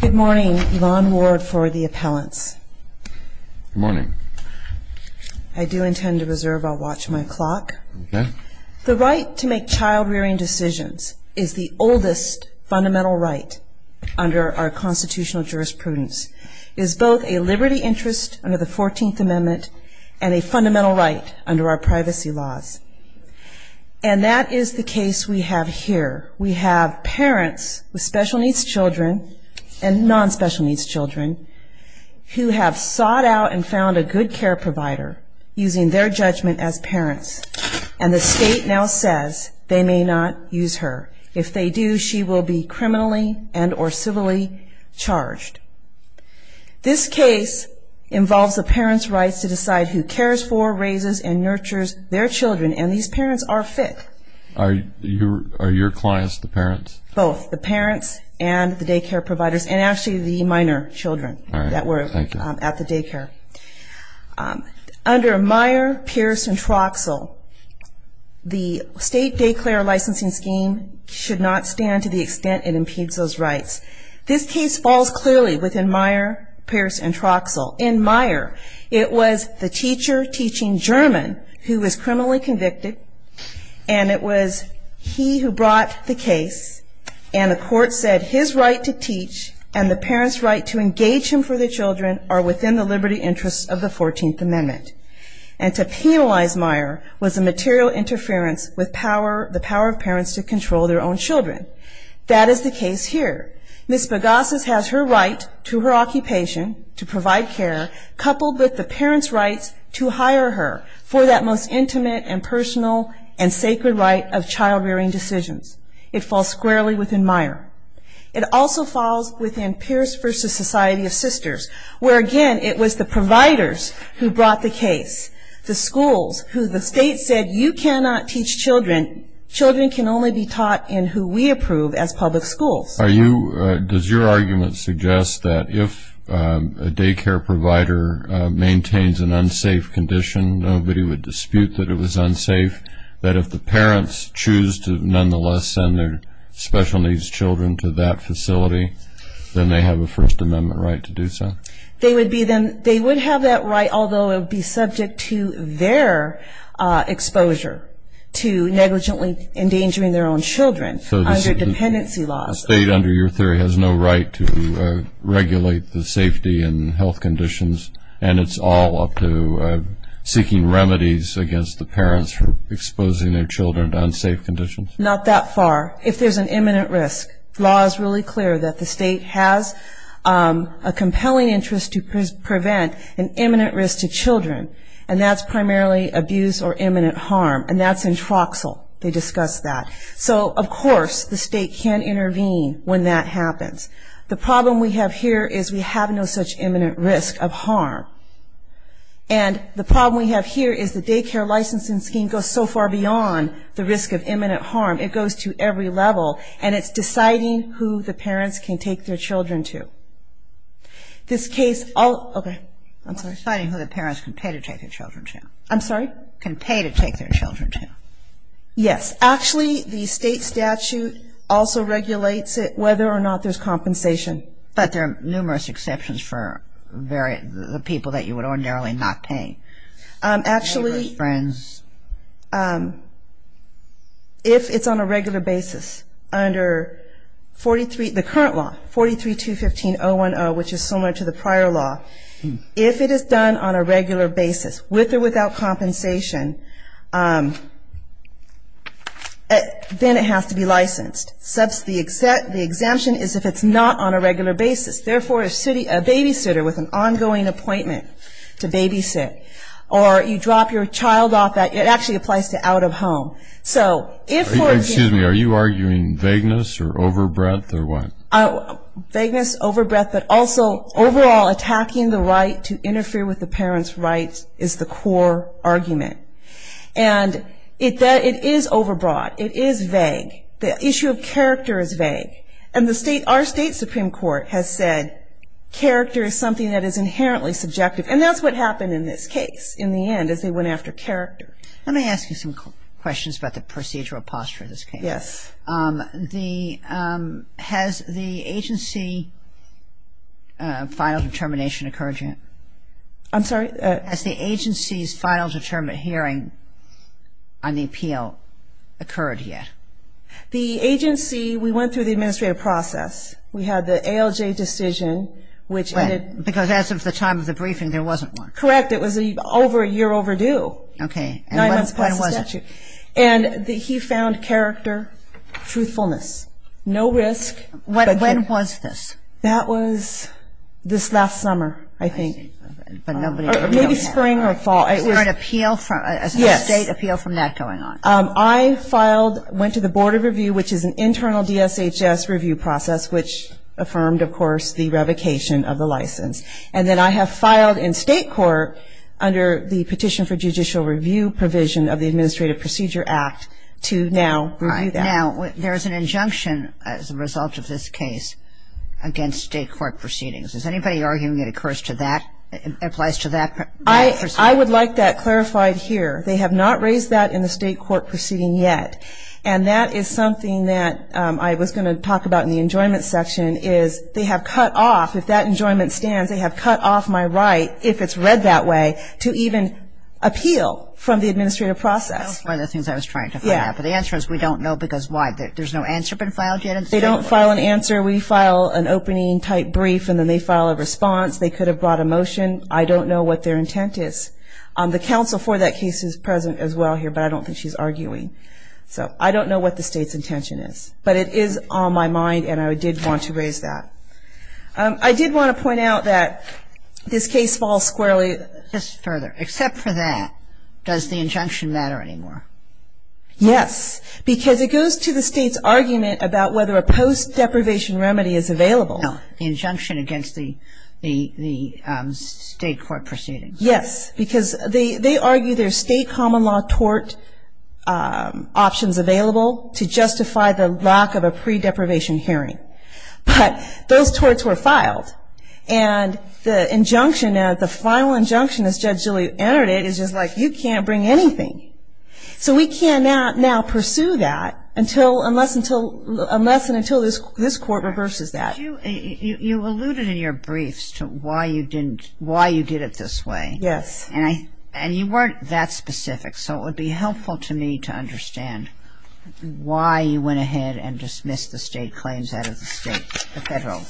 Good morning. Yvonne Ward for the appellants. Good morning. I do intend to reserve our watch and my clock. Okay. The right to make child-rearing decisions is the oldest fundamental right under our constitutional jurisprudence. It is both a liberty interest under the 14th Amendment and a fundamental right under our privacy laws. And that is the case we have here. We have parents with special needs children and non-special needs children who have sought out and found a good care provider using their judgment as parents. And the state now says they may not use her. If they do, she will be criminally and or civilly charged. This case involves the parents' rights to decide who cares for, raises, and nurtures their children, and these parents are fit. Are your clients the parents? Both, the parents and the daycare providers, and actually the minor children that were at the daycare. All right. Thank you. Under Meyer, Pierce, and Troxell, the state-declared licensing scheme should not stand to the extent it impedes those rights. This case falls clearly within Meyer, Pierce, and Troxell. In Meyer, it was the teacher teaching German who was criminally convicted, and it was he who brought the case, and the court said his right to teach and the parents' right to engage him for their children are within the liberty interests of the 14th Amendment. And to penalize Meyer was a material interference with the power of parents to control their own children. That is the case here. Ms. Bogosis has her right to her occupation, to provide care, coupled with the parents' rights to hire her for that most intimate and personal and sacred right of child-rearing decisions. It falls squarely within Meyer. It also falls within Pierce v. Society of Sisters, where again it was the providers who brought the case. The schools who the state said you cannot teach children, children can only be taught in who we approve as public schools. Does your argument suggest that if a daycare provider maintains an unsafe condition, nobody would dispute that it was unsafe, that if the parents choose to nonetheless send their special needs children to that facility, then they have a First Amendment right to do so? They would have that right, although it would be subject to their exposure to negligently endangering their own children under dependency laws. The state, under your theory, has no right to regulate the safety and health conditions, and it's all up to seeking remedies against the parents for exposing their children to unsafe conditions? Not that far. If there's an imminent risk, the law is really clear that the state has a compelling interest to prevent an imminent risk to children, and that's primarily abuse or imminent harm, and that's introxal. They discuss that. So, of course, the state can intervene when that happens. The problem we have here is we have no such imminent risk of harm, and the problem we have here is the daycare licensing scheme goes so far beyond the risk of imminent harm. It goes to every level, and it's deciding who the parents can take their children to. This case – okay. I'm sorry. Deciding who the parents can pay to take their children to. I'm sorry? Can pay to take their children to. Yes. Actually, the state statute also regulates it, whether or not there's compensation. But there are numerous exceptions for the people that you would ordinarily not pay. Actually, if it's on a regular basis, under the current law, 43-215-010, which is similar to the prior law, if it is done on a regular basis, with or without compensation, then it has to be licensed. The exemption is if it's not on a regular basis. Therefore, a babysitter with an ongoing appointment to babysit, or you drop your child off at – it actually applies to out of home. So if – Excuse me. Are you arguing vagueness or overbreadth or what? Vagueness, overbreadth, but also overall attacking the right to interfere with the parents' rights is the core argument. And it is overbroad. It is vague. The issue of character is vague. And the state – our state Supreme Court has said character is something that is inherently subjective. And that's what happened in this case, in the end, is they went after character. Let me ask you some questions about the procedural posture of this case. Yes. Has the agency final determination occurred yet? I'm sorry? Has the agency's final determined hearing on the appeal occurred yet? The agency, we went through the administrative process. We had the ALJ decision, which – Right. Because as of the time of the briefing, there wasn't one. Correct. Okay. Nine months past the statute. And when was it? And he found character, truthfulness. No risk. When was this? That was this last summer, I think. Or maybe spring or fall. Was there an appeal from – a state appeal from that going on? Yes. I filed – went to the Board of Review, which is an internal DSHS review process, which affirmed, of course, the revocation of the license. And then I have filed in state court under the Petition for Judicial Review provision of the Administrative Procedure Act to now review that. Now, there is an injunction as a result of this case against state court proceedings. Is anybody arguing it occurs to that – applies to that? I would like that clarified here. They have not raised that in the state court proceeding yet. And that is something that I was going to talk about in the enjoyment section, is they have cut off – if that enjoyment stands, they have cut off my right, if it's read that way, to even appeal from the administrative process. That was one of the things I was trying to find out. But the answer is we don't know because why? There's no answer been filed yet in the state court? They don't file an answer. We file an opening-type brief, and then they file a response. They could have brought a motion. I don't know what their intent is. The counsel for that case is present as well here, but I don't think she's arguing. So I don't know what the state's intention is. But it is on my mind, and I did want to raise that. I did want to point out that this case falls squarely – Just further. Except for that, does the injunction matter anymore? Yes. Because it goes to the state's argument about whether a post-deprivation remedy is available. No. The injunction against the state court proceeding. Yes. Because they argue there's state common law tort options available to justify the lack of a pre-deprivation hearing. But those torts were filed, and the injunction, the final injunction as Judge Gilley entered it is just like, you can't bring anything. So we cannot now pursue that unless and until this court reverses that. You alluded in your briefs to why you did it this way. Yes. And you weren't that specific, so it would be helpful to me to understand why you went ahead and dismissed the state claims out of the state, the federal.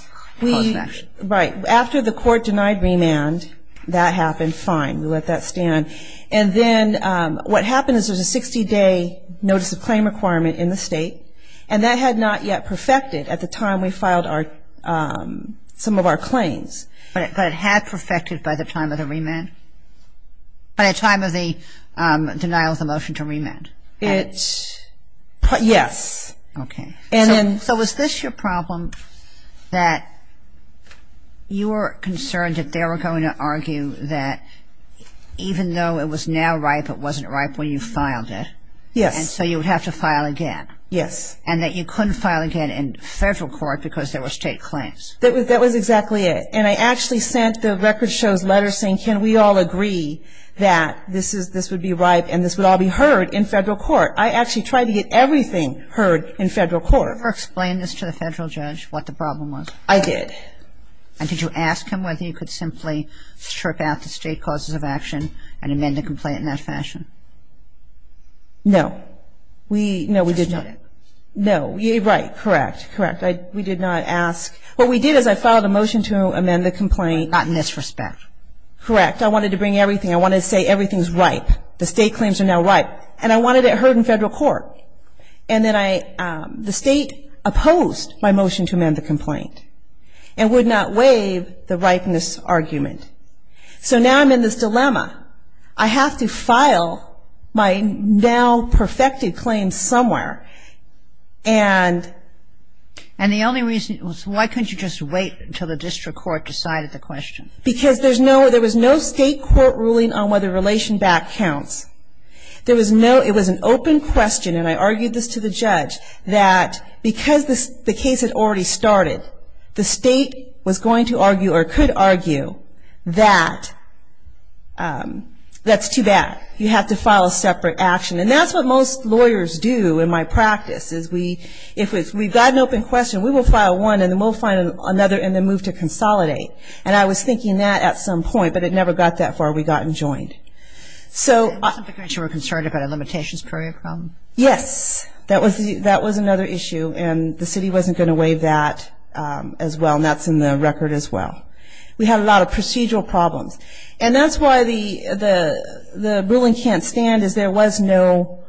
Right. After the court denied remand, that happened, fine. We let that stand. And then what happened is there's a 60-day notice of claim requirement in the state, and that had not yet perfected at the time we filed some of our claims. But it had perfected by the time of the remand? By the time of the denial of the motion to remand? Yes. Okay. So was this your problem that you were concerned that they were going to argue that even though it was now ripe, it wasn't ripe when you filed it? Yes. And so you would have to file again? Yes. And that you couldn't file again in federal court because there were state claims? That was exactly it. And I actually sent the record show's letter saying, can we all agree that this would be ripe and this would all be heard in federal court? I actually tried to get everything heard in federal court. Did you ever explain this to the federal judge what the problem was? I did. And did you ask him whether you could simply strip out the state causes of action and amend the complaint in that fashion? No. No, we did not. No. Right. Correct. We did not ask. What we did is I filed a motion to amend the complaint. Not in this respect. Correct. I wanted to bring everything. I wanted to say everything's ripe. The state claims are now ripe. And I wanted it heard in federal court. And then the state opposed my motion to amend the complaint and would not waive the ripeness argument. So now I'm in this dilemma. I have to file my now perfected claim somewhere. And the only reason, why couldn't you just wait until the district court decided the question? Because there was no state court ruling on whether relation back counts. There was no, it was an open question, and I argued this to the judge that because the case had already started, the state was going to argue or could argue that that's too bad. You have to file a separate action. And that's what most lawyers do in my practice, is if we've got an open question, we will file one, and then we'll find another and then move to consolidate. And I was thinking that at some point, but it never got that far. We got enjoined. So. Because you were concerned about a limitations period problem. Yes. That was another issue. And the city wasn't going to waive that as well, and that's in the record as well. We had a lot of procedural problems. And that's why the ruling can't stand, is there was no,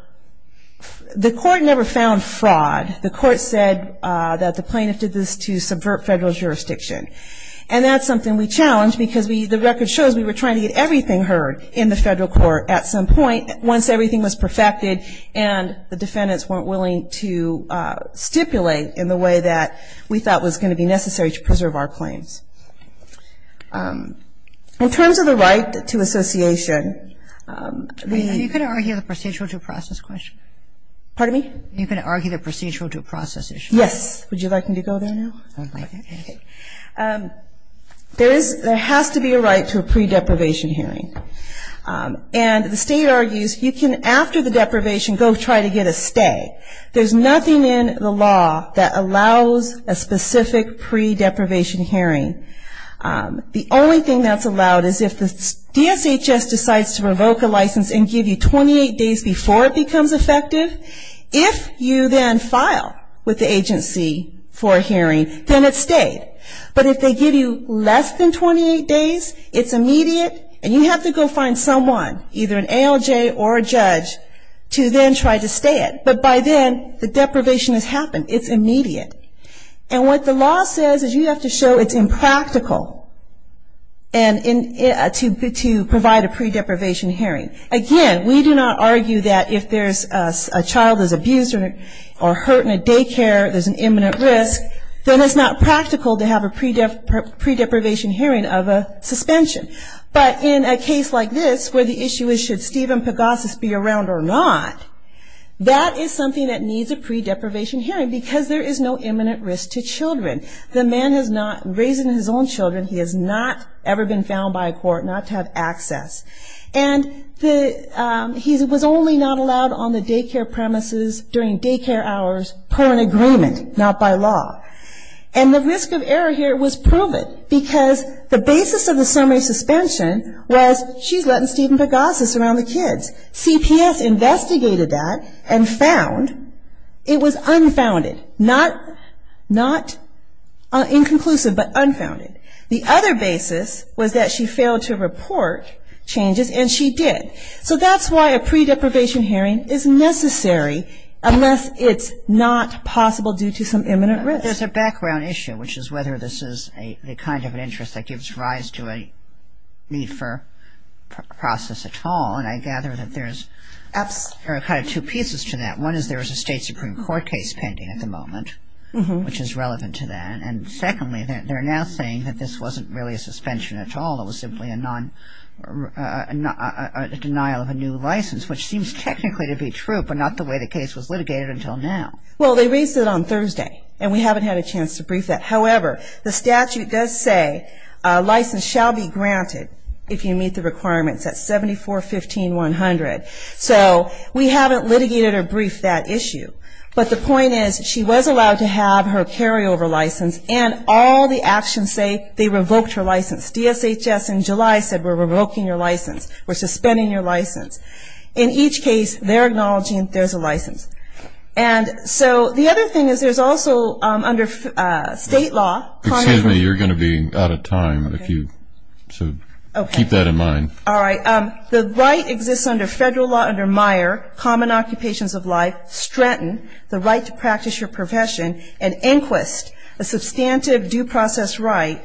the court never found fraud. The court said that the plaintiff did this to subvert federal jurisdiction. And that's something we challenged, because the record shows we were trying to get everything heard in the federal court at some point once everything was perfected and the defendants weren't willing to stipulate in the way that we thought was going to be necessary to preserve our claims. In terms of the right to association, the... Are you going to argue the procedural due process question? Pardon me? Are you going to argue the procedural due process issue? Yes. Would you like me to go there now? Okay. There has to be a right to a pre-deprivation hearing. And the state argues you can, after the deprivation, go try to get a stay. There's nothing in the law that allows a specific pre-deprivation hearing The only thing that's allowed is if the DSHS decides to revoke a license and give you 28 days before it becomes effective, if you then file with the agency for a hearing, then it's stayed. But if they give you less than 28 days, it's immediate, and you have to go find someone, either an ALJ or a judge, to then try to stay it. But by then, the deprivation has happened. It's immediate. And what the law says is you have to show it's impractical to provide a pre-deprivation hearing. Again, we do not argue that if a child is abused or hurt in a daycare, there's an imminent risk, then it's not practical to have a pre-deprivation hearing of a suspension. But in a case like this, where the issue is should Stephen Pegasus be around or not, that is something that needs a pre-deprivation hearing because there is no imminent risk to children. The man has not raised his own children. He has not ever been found by a court not to have access. And he was only not allowed on the daycare premises during daycare hours per an agreement, not by law. And the risk of error here was proven because the basis of the summary suspension was she's letting Stephen Pegasus around the kids. CPS investigated that and found it was unfounded. Not inconclusive, but unfounded. The other basis was that she failed to report changes, and she did. So that's why a pre-deprivation hearing is necessary unless it's not possible due to some imminent risk. There's a background issue, which is whether this is the kind of an interest that gives rise to a need for process at all. And I gather that there's kind of two pieces to that. One is there is a state Supreme Court case pending at the moment, which is relevant to that. And secondly, they're now saying that this wasn't really a suspension at all. It was simply a denial of a new license, which seems technically to be true, but not the way the case was litigated until now. Well, they raised it on Thursday, and we haven't had a chance to brief that. However, the statute does say a license shall be granted if you meet the requirements. That's 74-15-100. So we haven't litigated or briefed that issue. But the point is she was allowed to have her carryover license, and all the actions say they revoked her license. DSHS in July said we're revoking your license. We're suspending your license. In each case, they're acknowledging there's a license. And so the other thing is there's also under state law. Excuse me. You're going to be out of time, so keep that in mind. All right. The right exists under federal law under Meyer, common occupations of life, Stratton, the right to practice your profession, and Inquist, a substantive due process right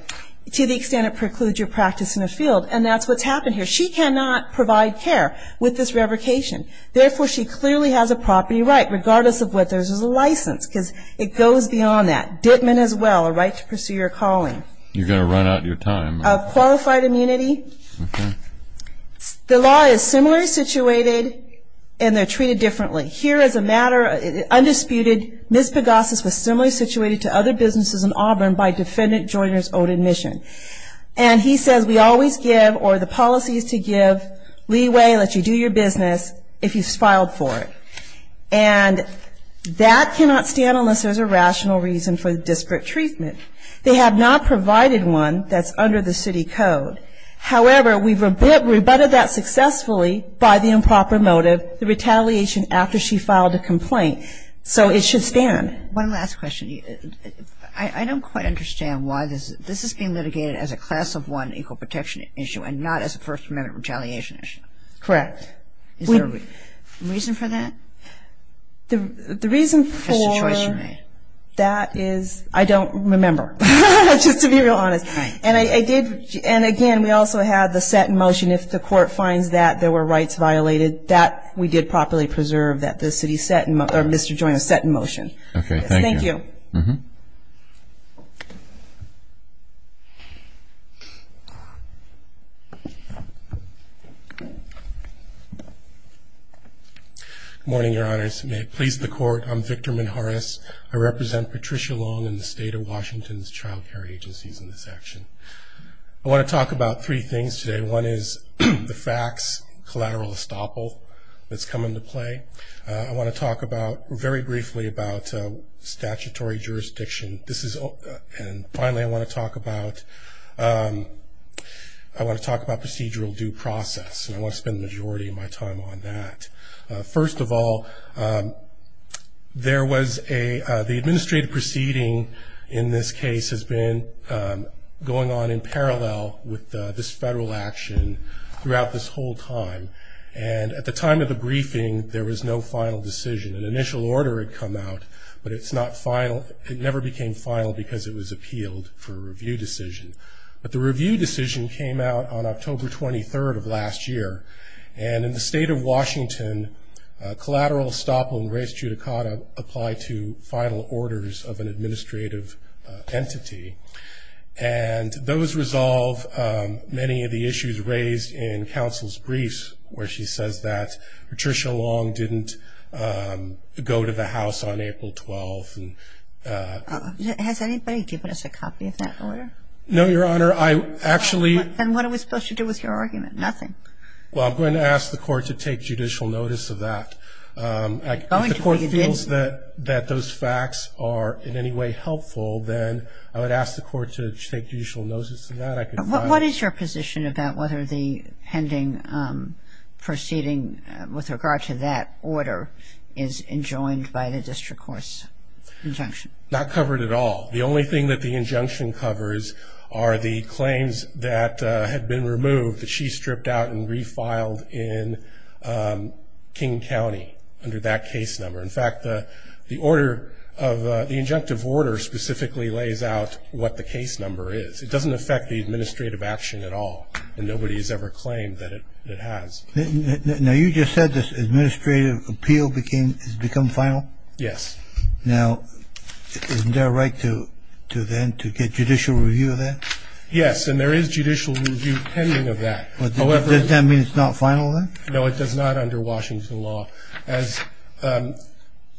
to the extent it precludes your practice in the field. And that's what's happened here. She cannot provide care with this revocation. Therefore, she clearly has a property right, regardless of whether there's a license, because it goes beyond that. Ditman as well, a right to pursue your calling. You're going to run out of your time. Qualified immunity. Okay. The law is similarly situated, and they're treated differently. Here is a matter, undisputed. Ms. Pagosis was similarly situated to other businesses in Auburn by defendant Joyner's own admission. And he says we always give, or the policy is to give, leeway, let you do your business, if you've filed for it. And that cannot stand unless there's a rational reason for the district treatment. They have not provided one that's under the city code. However, we've rebutted that successfully by the improper motive, the retaliation after she filed a complaint. So it should stand. One last question. I don't quite understand why this is being litigated as a class of one equal protection issue and not as a First Amendment retaliation issue. Correct. Is there a reason for that? The reason for that is I don't remember, just to be real honest. Right. And again, we also had the set in motion, if the court finds that there were rights violated, that we did properly preserve that the city set in motion, or Mr. Joyner set in motion. Okay, thank you. Yes, thank you. Good morning, Your Honors. May it please the Court, I'm Victor Menjarez. I represent Patricia Long and the state of Washington's child care agencies in this action. I want to talk about three things today. One is the FACTS collateral estoppel that's come into play. I want to talk very briefly about statutory jurisdiction. And finally, I want to talk about procedural due process, and I want to spend the majority of my time on that. First of all, the administrative proceeding in this case has been going on in parallel with this federal action throughout this whole time. And at the time of the briefing, there was no final decision. An initial order had come out, but it's not final. It never became final because it was appealed for a review decision. But the review decision came out on October 23rd of last year. And in the state of Washington, collateral estoppel and res judicata apply to final orders of an administrative entity. And those resolve many of the issues raised in counsel's briefs, where she says that Patricia Long didn't go to the House on April 12th. Has anybody given us a copy of that order? No, Your Honor. And what are we supposed to do with your argument? Nothing. Well, I'm going to ask the Court to take judicial notice of that. If the Court feels that those facts are in any way helpful, then I would ask the Court to take judicial notice of that. What is your position about whether the pending proceeding with regard to that order is enjoined by the district court's injunction? Not covered at all. The only thing that the injunction covers are the claims that had been removed that she stripped out and refiled in King County under that case number. In fact, the order of the injunctive order specifically lays out what the case number is. It doesn't affect the administrative action at all. And nobody has ever claimed that it has. Now, you just said this administrative appeal has become final? Yes. Now, isn't there a right to then to get judicial review of that? Yes, and there is judicial review pending of that. Does that mean it's not final then? No, it does not under Washington law. As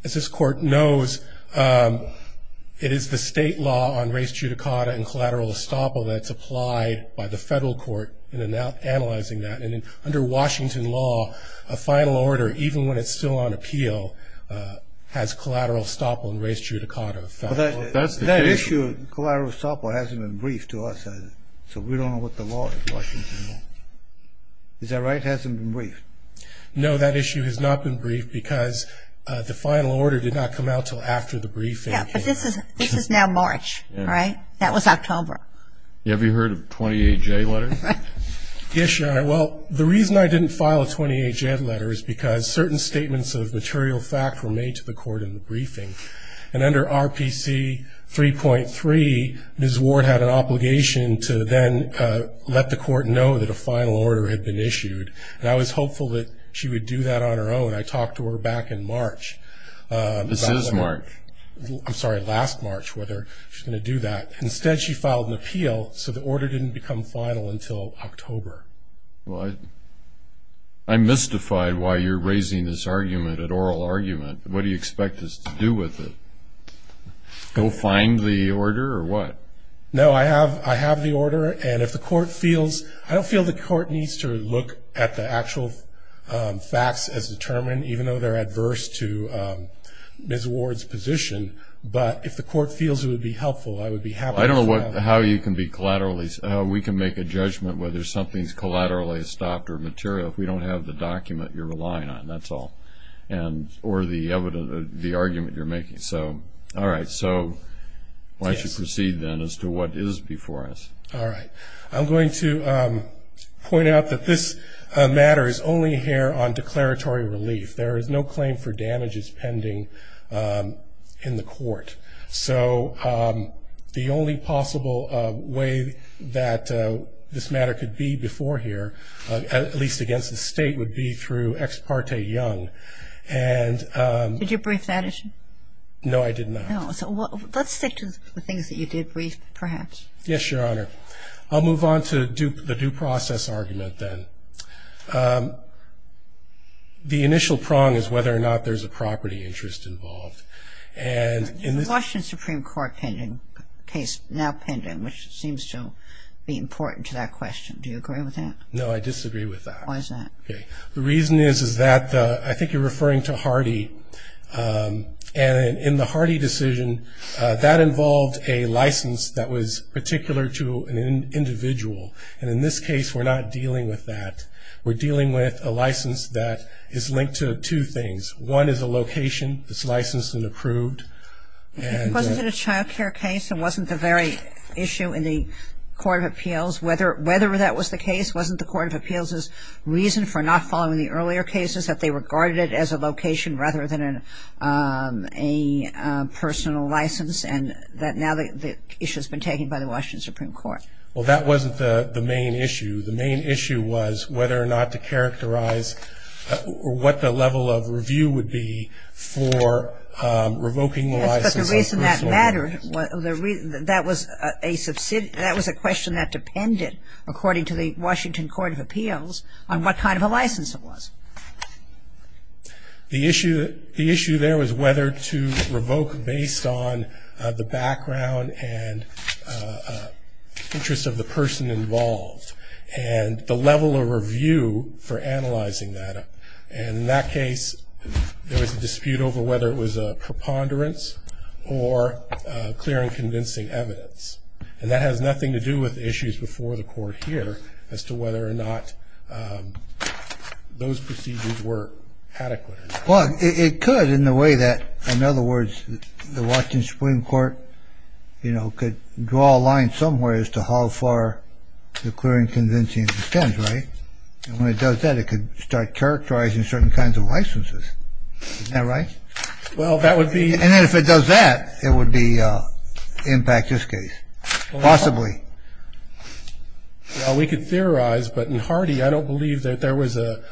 this Court knows, it is the state law on res judicata and collateral estoppel that's applied by the federal court in analyzing that. And under Washington law, a final order, even when it's still on appeal, has collateral estoppel and res judicata. That issue of collateral estoppel hasn't been briefed to us, so we don't know what the law is in Washington law. Is that right? It hasn't been briefed? No, that issue has not been briefed because the final order did not come out until after the briefing. Yes, but this is now March, right? That was October. Have you heard of 28J letters? Yes, Your Honor. Well, the reason I didn't file a 28J letter is because certain statements of material fact were made to the Court in the briefing. And under RPC 3.3, Ms. Ward had an obligation to then let the Court know that a final order had been issued. And I was hopeful that she would do that on her own. I talked to her back in March. This is March. I'm sorry, last March, whether she's going to do that. Instead, she filed an appeal so the order didn't become final until October. Well, I'm mystified why you're raising this argument, an oral argument. What do you expect us to do with it? Go find the order or what? No, I have the order. I don't feel the Court needs to look at the actual facts as determined, even though they're adverse to Ms. Ward's position. But if the Court feels it would be helpful, I would be happy to have it. I don't know how we can make a judgment whether something's collaterally stopped or material if we don't have the document you're relying on, that's all, or the argument you're making. All right, so why don't you proceed then as to what is before us. All right. I'm going to point out that this matter is only here on declaratory relief. There is no claim for damages pending in the Court. So the only possible way that this matter could be before here, at least against the State, would be through Ex parte Young. Did you brief that issue? No, I did not. Let's stick to the things that you did brief, perhaps. Yes, Your Honor. I'll move on to the due process argument then. The initial prong is whether or not there's a property interest involved. The Washington Supreme Court case now pending, which seems to be important to that question. Do you agree with that? No, I disagree with that. The reason is that I think you're referring to Hardy. And in the Hardy decision, that involved a license that was particular to an individual. And in this case, we're not dealing with that. We're dealing with a license that is linked to two things. One is a location that's licensed and approved. If it wasn't a child care case, it wasn't the very issue in the Court of Appeals, whether that was the case wasn't the Court of Appeals' reason for not following the earlier cases, that they regarded it as a location rather than a personal license, and that now the issue has been taken by the Washington Supreme Court. Well, that wasn't the main issue. The main issue was whether or not to characterize what the level of review would be for revoking the license. Yes, but the reason that mattered, that was a question that depended, according to the Washington Court of Appeals, on what kind of a license it was. The issue there was whether to revoke based on the background and interest of the person involved, and the level of review for analyzing that. And in that case, there was a dispute over whether it was a preponderance or clear and convincing evidence. And that has nothing to do with the issues before the Court here as to whether or not those procedures were adequate. Well, it could in the way that, in other words, the Washington Supreme Court could draw a line somewhere as to how far the clear and convincing it extends, right? And when it does that, it could start characterizing certain kinds of licenses. Isn't that right? Well, that would be... And then if it does that, it would impact this case, possibly. Well, we could theorize, but in Hardy, I don't believe that there was a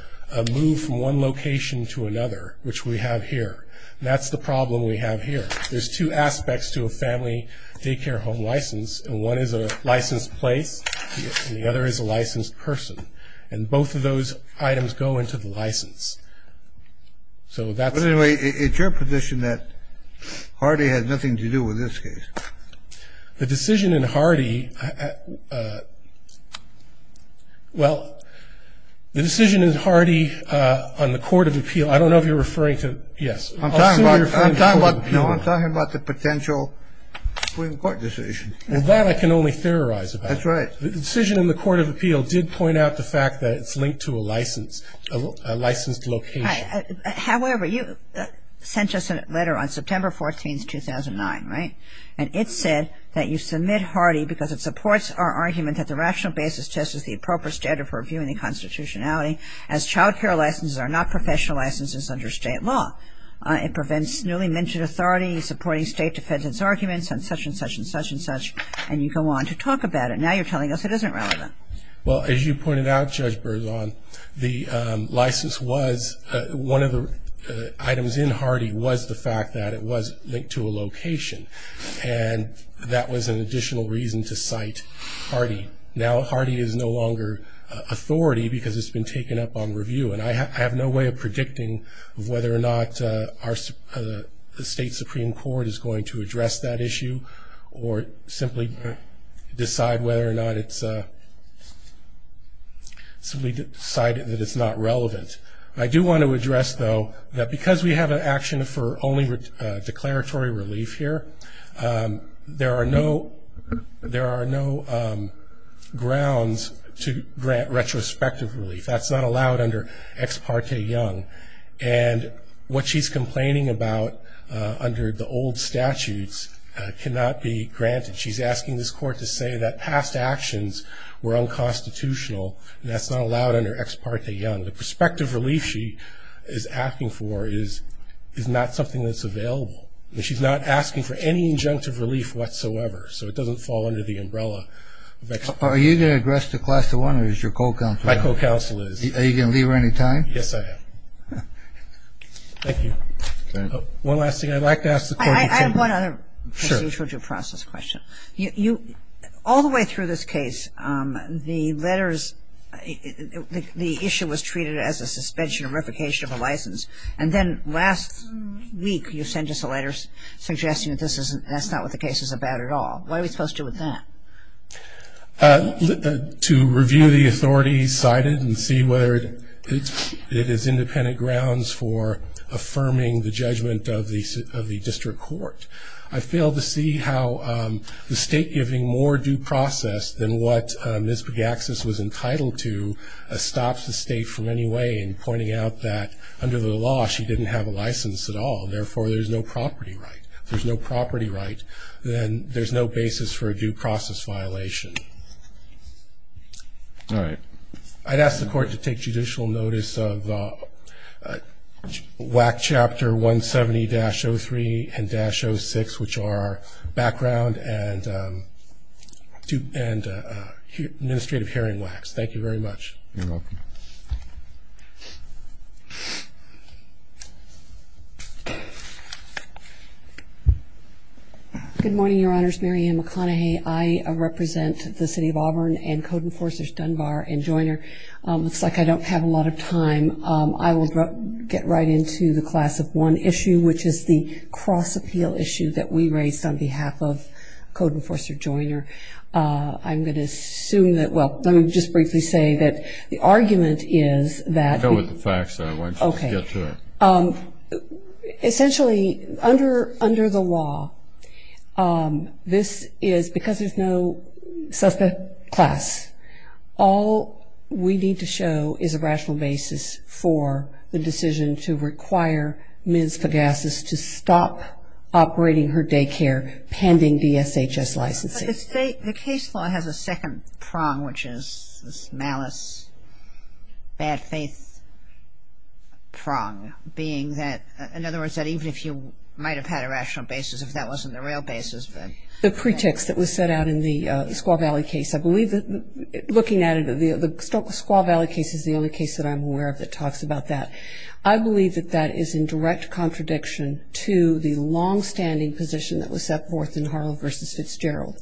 move from one location to another, which we have here. That's the problem we have here. There's two aspects to a family daycare home license, and one is a licensed place and the other is a licensed person. And both of those items go into the license. So that's... But anyway, it's your position that Hardy had nothing to do with this case. The decision in Hardy... Well, the decision in Hardy on the Court of Appeal, I don't know if you're referring to... Yes. I'm talking about the potential Supreme Court decision. That I can only theorize about. That's right. The decision in the Court of Appeal did point out the fact that it's linked to a license, a licensed location. However, you sent us a letter on September 14, 2009, right? And it said that you submit Hardy because it supports our argument that the rational basis test is the appropriate standard for reviewing the constitutionality as child care licenses are not professional licenses under state law. It prevents newly minted authorities supporting state defendant's arguments and such and such and such and such. And you go on to talk about it. Now you're telling us it isn't relevant. Well, as you pointed out, Judge Berzon, the license was... One of the items in Hardy was the fact that it was linked to a location. And that was an additional reason to cite Hardy. Now Hardy is no longer authority because it's been taken up on review. And I have no way of predicting whether or not the state Supreme Court is going to address that issue or simply decide whether or not it's... simply decide that it's not relevant. I do want to address, though, that because we have an action for only declaratory relief here, there are no grounds to grant retrospective relief. That's not allowed under Ex parte Young. And what she's complaining about under the old statutes cannot be granted. She's asking this court to say that past actions were unconstitutional, and that's not allowed under Ex parte Young. The prospective relief she is asking for is not something that's available. I mean, she's not asking for any injunctive relief whatsoever, so it doesn't fall under the umbrella of Ex parte Young. Are you going to address the Class I, or is your co-counsel? My co-counsel is. Are you going to leave her any time? Yes, I am. Thank you. One last thing. I'd like to ask the court... I have one other procedural process question. Sure. All the way through this case, the letters, the issue was treated as a suspension or replication of a license, and then last week you sent us a letter suggesting that that's not what the case is about at all. What are we supposed to do with that? To review the authority cited and see whether it is independent grounds for affirming the judgment of the district court. I fail to see how the state giving more due process than what Ms. Bagaxis was entitled to stops the state from any way in pointing out that under the law she didn't have a license at all, therefore there's no property right. If there's no property right, then there's no basis for a due process violation. All right. I'd ask the court to take judicial notice of WAC Chapter 170-03 and 06, which are background and administrative hearing WACs. Thank you very much. You're welcome. Good morning, Your Honors. Mary Ann McConaughey. I represent the City of Auburn and Code Enforcers Dunbar and Joiner. It looks like I don't have a lot of time. I will get right into the Class of 1 issue, which is the cross-appeal issue that we raised on behalf of Code Enforcer Joiner. I'm going to assume that, well, let me just briefly say that the argument is that- I know what the facts are. Why don't you just get to it? Okay. Essentially, under the law, this is-because there's no suspect class, all we need to show is a rational basis for the decision to require Ms. Pagassis to stop operating her daycare pending DSHS licensing. The case law has a second prong, which is this malice, bad faith prong, being that-in other words, that even if you might have had a rational basis, if that wasn't the real basis. The pretext that was set out in the Squaw Valley case. I believe that looking at it, the Squaw Valley case is the only case that I'm aware of that talks about that. I believe that that is in direct contradiction to the long-standing position that was set forth in Harlow v. Fitzgerald.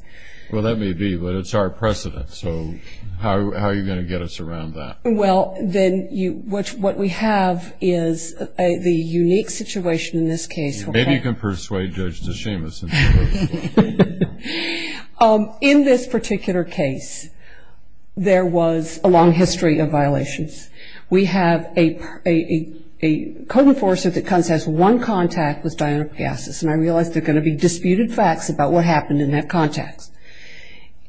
Well, that may be, but it's our precedent. So how are you going to get us around that? Well, then what we have is the unique situation in this case. Maybe you can persuade Judge DeShamis. In this particular case, there was a long history of violations. We have a code enforcer that has one contact with Diana Pagassis, and I realize there are going to be disputed facts about what happened in that context.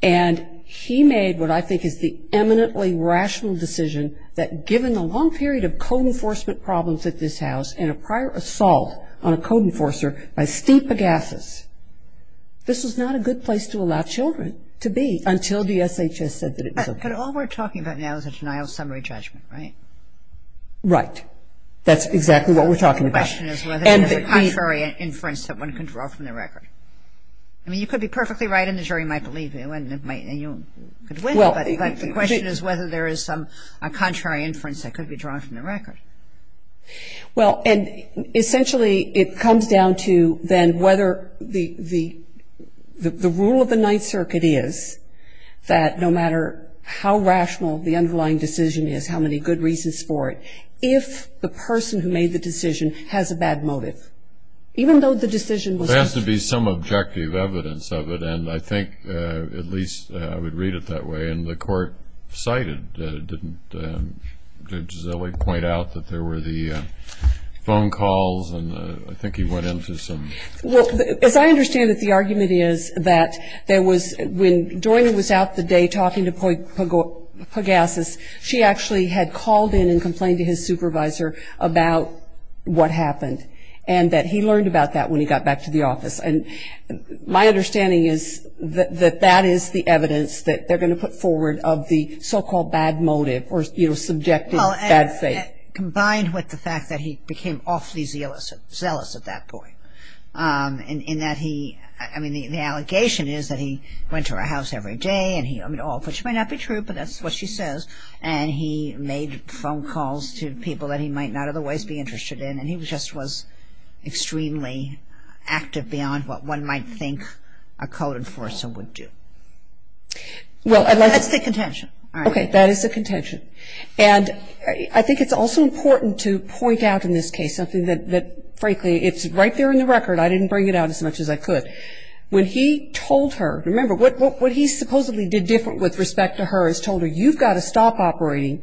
And he made what I think is the eminently rational decision that given the long period of code enforcement problems at this house and a prior assault on a code enforcer by Steve Pagassis, this was not a good place to allow children to be until DSHS said that it was okay. But all we're talking about now is a denial of summary judgment, right? Right. That's exactly what we're talking about. The question is whether there's a contrary inference that one can draw from the record. I mean, you could be perfectly right and the jury might believe you and you could win, but the question is whether there is some contrary inference that could be drawn from the record. Well, and essentially it comes down to then whether the rule of the Ninth Circuit is that no matter how rational the underlying decision is, how many good reasons for it, if the person who made the decision has a bad motive, even though the decision was There has to be some objective evidence of it, and I think at least I would read it that way. And the court cited, didn't Gisele point out that there were the phone calls? And I think he went into some Well, as I understand it, the argument is that there was, when Joyner was out the day talking to Pagassis, she actually had called in and complained to his supervisor about what happened and that he learned about that when he got back to the office. And my understanding is that that is the evidence that they're going to put forward of the so-called bad motive or, you know, subjective bad faith. Well, combined with the fact that he became awfully zealous at that point in that he, I mean, the allegation is that he went to her house every day and he, I mean, all of which may not be true, but that's what she says, and he made phone calls to people that he might not otherwise be interested in, and he just was extremely active beyond what one might think a code enforcer would do. That's the contention. Okay, that is the contention. And I think it's also important to point out in this case something that, frankly, it's right there in the record. I didn't bring it out as much as I could. But when he told her, remember, what he supposedly did different with respect to her is told her, you've got to stop operating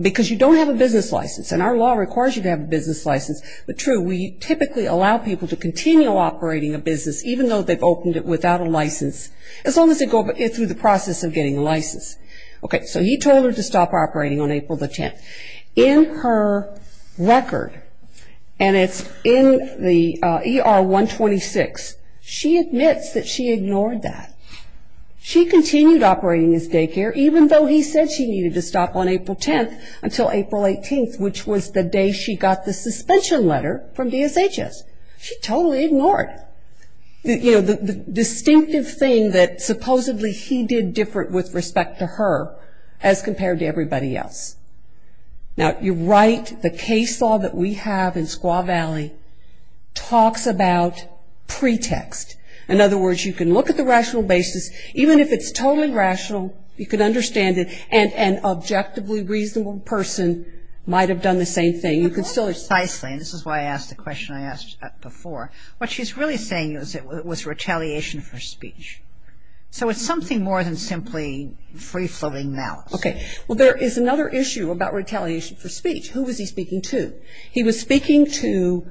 because you don't have a business license, and our law requires you to have a business license. But, true, we typically allow people to continue operating a business, even though they've opened it without a license, as long as they go through the process of getting a license. Okay, so he told her to stop operating on April the 10th. In her record, and it's in the ER-126, she admits that she ignored that. She continued operating his daycare, even though he said she needed to stop on April 10th until April 18th, which was the day she got the suspension letter from DSHS. She totally ignored, you know, the distinctive thing that supposedly he did different with respect to her as compared to everybody else. Now, you're right, the case law that we have in Squaw Valley talks about pretext. In other words, you can look at the rational basis, even if it's totally rational, you can understand it, and an objectively reasonable person might have done the same thing. You can still- Precisely, and this is why I asked the question I asked before. What she's really saying was retaliation for speech. So it's something more than simply free-floating malice. Okay, well, there is another issue about retaliation for speech. Who was he speaking to? He was speaking to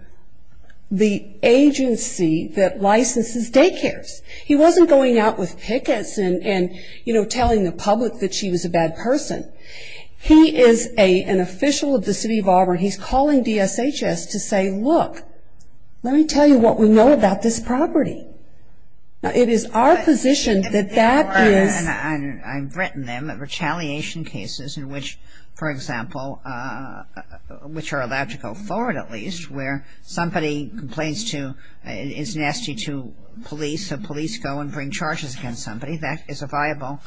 the agency that licenses daycares. He wasn't going out with pickets and, you know, telling the public that she was a bad person. He is an official of the city of Auburn. He's calling DSHS to say, look, let me tell you what we know about this property. Now, it is our position that that is- I've written them, retaliation cases in which, for example, which are allowed to go forward at least, where somebody complains to, is nasty to police, so police go and bring charges against somebody. That is a viable-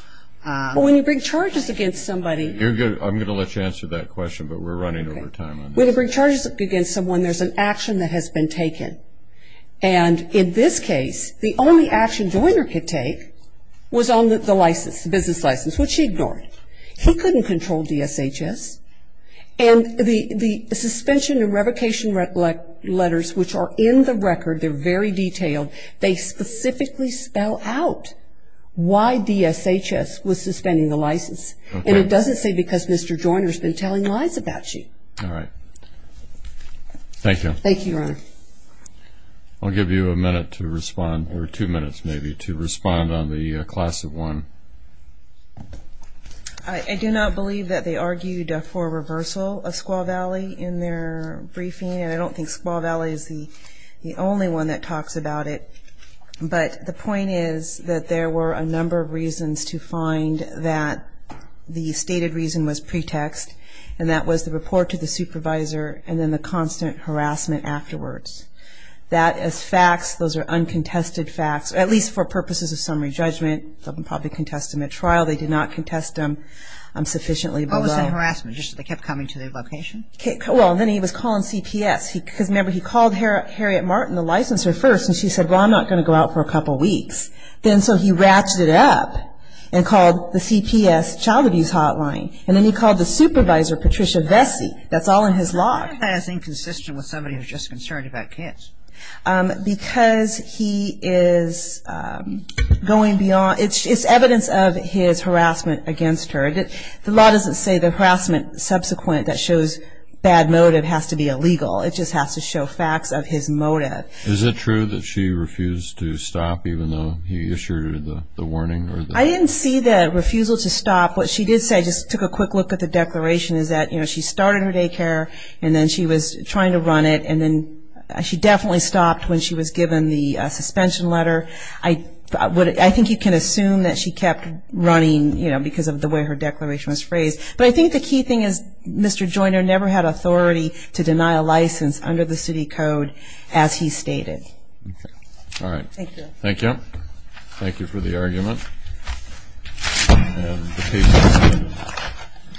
Well, when you bring charges against somebody- I'm going to let you answer that question, but we're running over time on this. When you bring charges against someone, there's an action that has been taken. And in this case, the only action Joyner could take was on the license, the business license, which he ignored. He couldn't control DSHS. And the suspension and revocation letters, which are in the record, they're very detailed, they specifically spell out why DSHS was suspending the license. And it doesn't say because Mr. Joyner has been telling lies about you. All right. Thank you. Thank you, Ron. I'll give you a minute to respond, or two minutes maybe, to respond on the class of one. I do not believe that they argued for reversal of Squaw Valley in their briefing, and I don't think Squaw Valley is the only one that talks about it. But the point is that there were a number of reasons to find that the stated reason was pretext, and that was the report to the supervisor and then the constant harassment afterwards. That as facts, those are uncontested facts, at least for purposes of summary judgment. They'll probably contest him at trial. They did not contest him sufficiently. What was that harassment, just that they kept coming to the location? Well, then he was calling CPS. Because remember, he called Harriet Martin, the licensor, first, and she said, well, I'm not going to go out for a couple weeks. Then so he ratcheted it up and called the CPS child abuse hotline. And then he called the supervisor, Patricia Vesey. That's all in his log. Why is that inconsistent with somebody who's just concerned about kids? Because he is going beyond. It's evidence of his harassment against her. The law doesn't say the harassment subsequent that shows bad motive has to be illegal. It just has to show facts of his motive. Is it true that she refused to stop even though he issued her the warning? I didn't see the refusal to stop. What she did say, I just took a quick look at the declaration, is that, you know, she started her daycare and then she was trying to run it and then she definitely stopped when she was given the suspension letter. I think you can assume that she kept running, you know, because of the way her declaration was phrased. But I think the key thing is Mr. Joyner never had authority to deny a license under the city code as he stated. Okay. All right. Thank you. Thank you. Thank you for the argument. Thank you.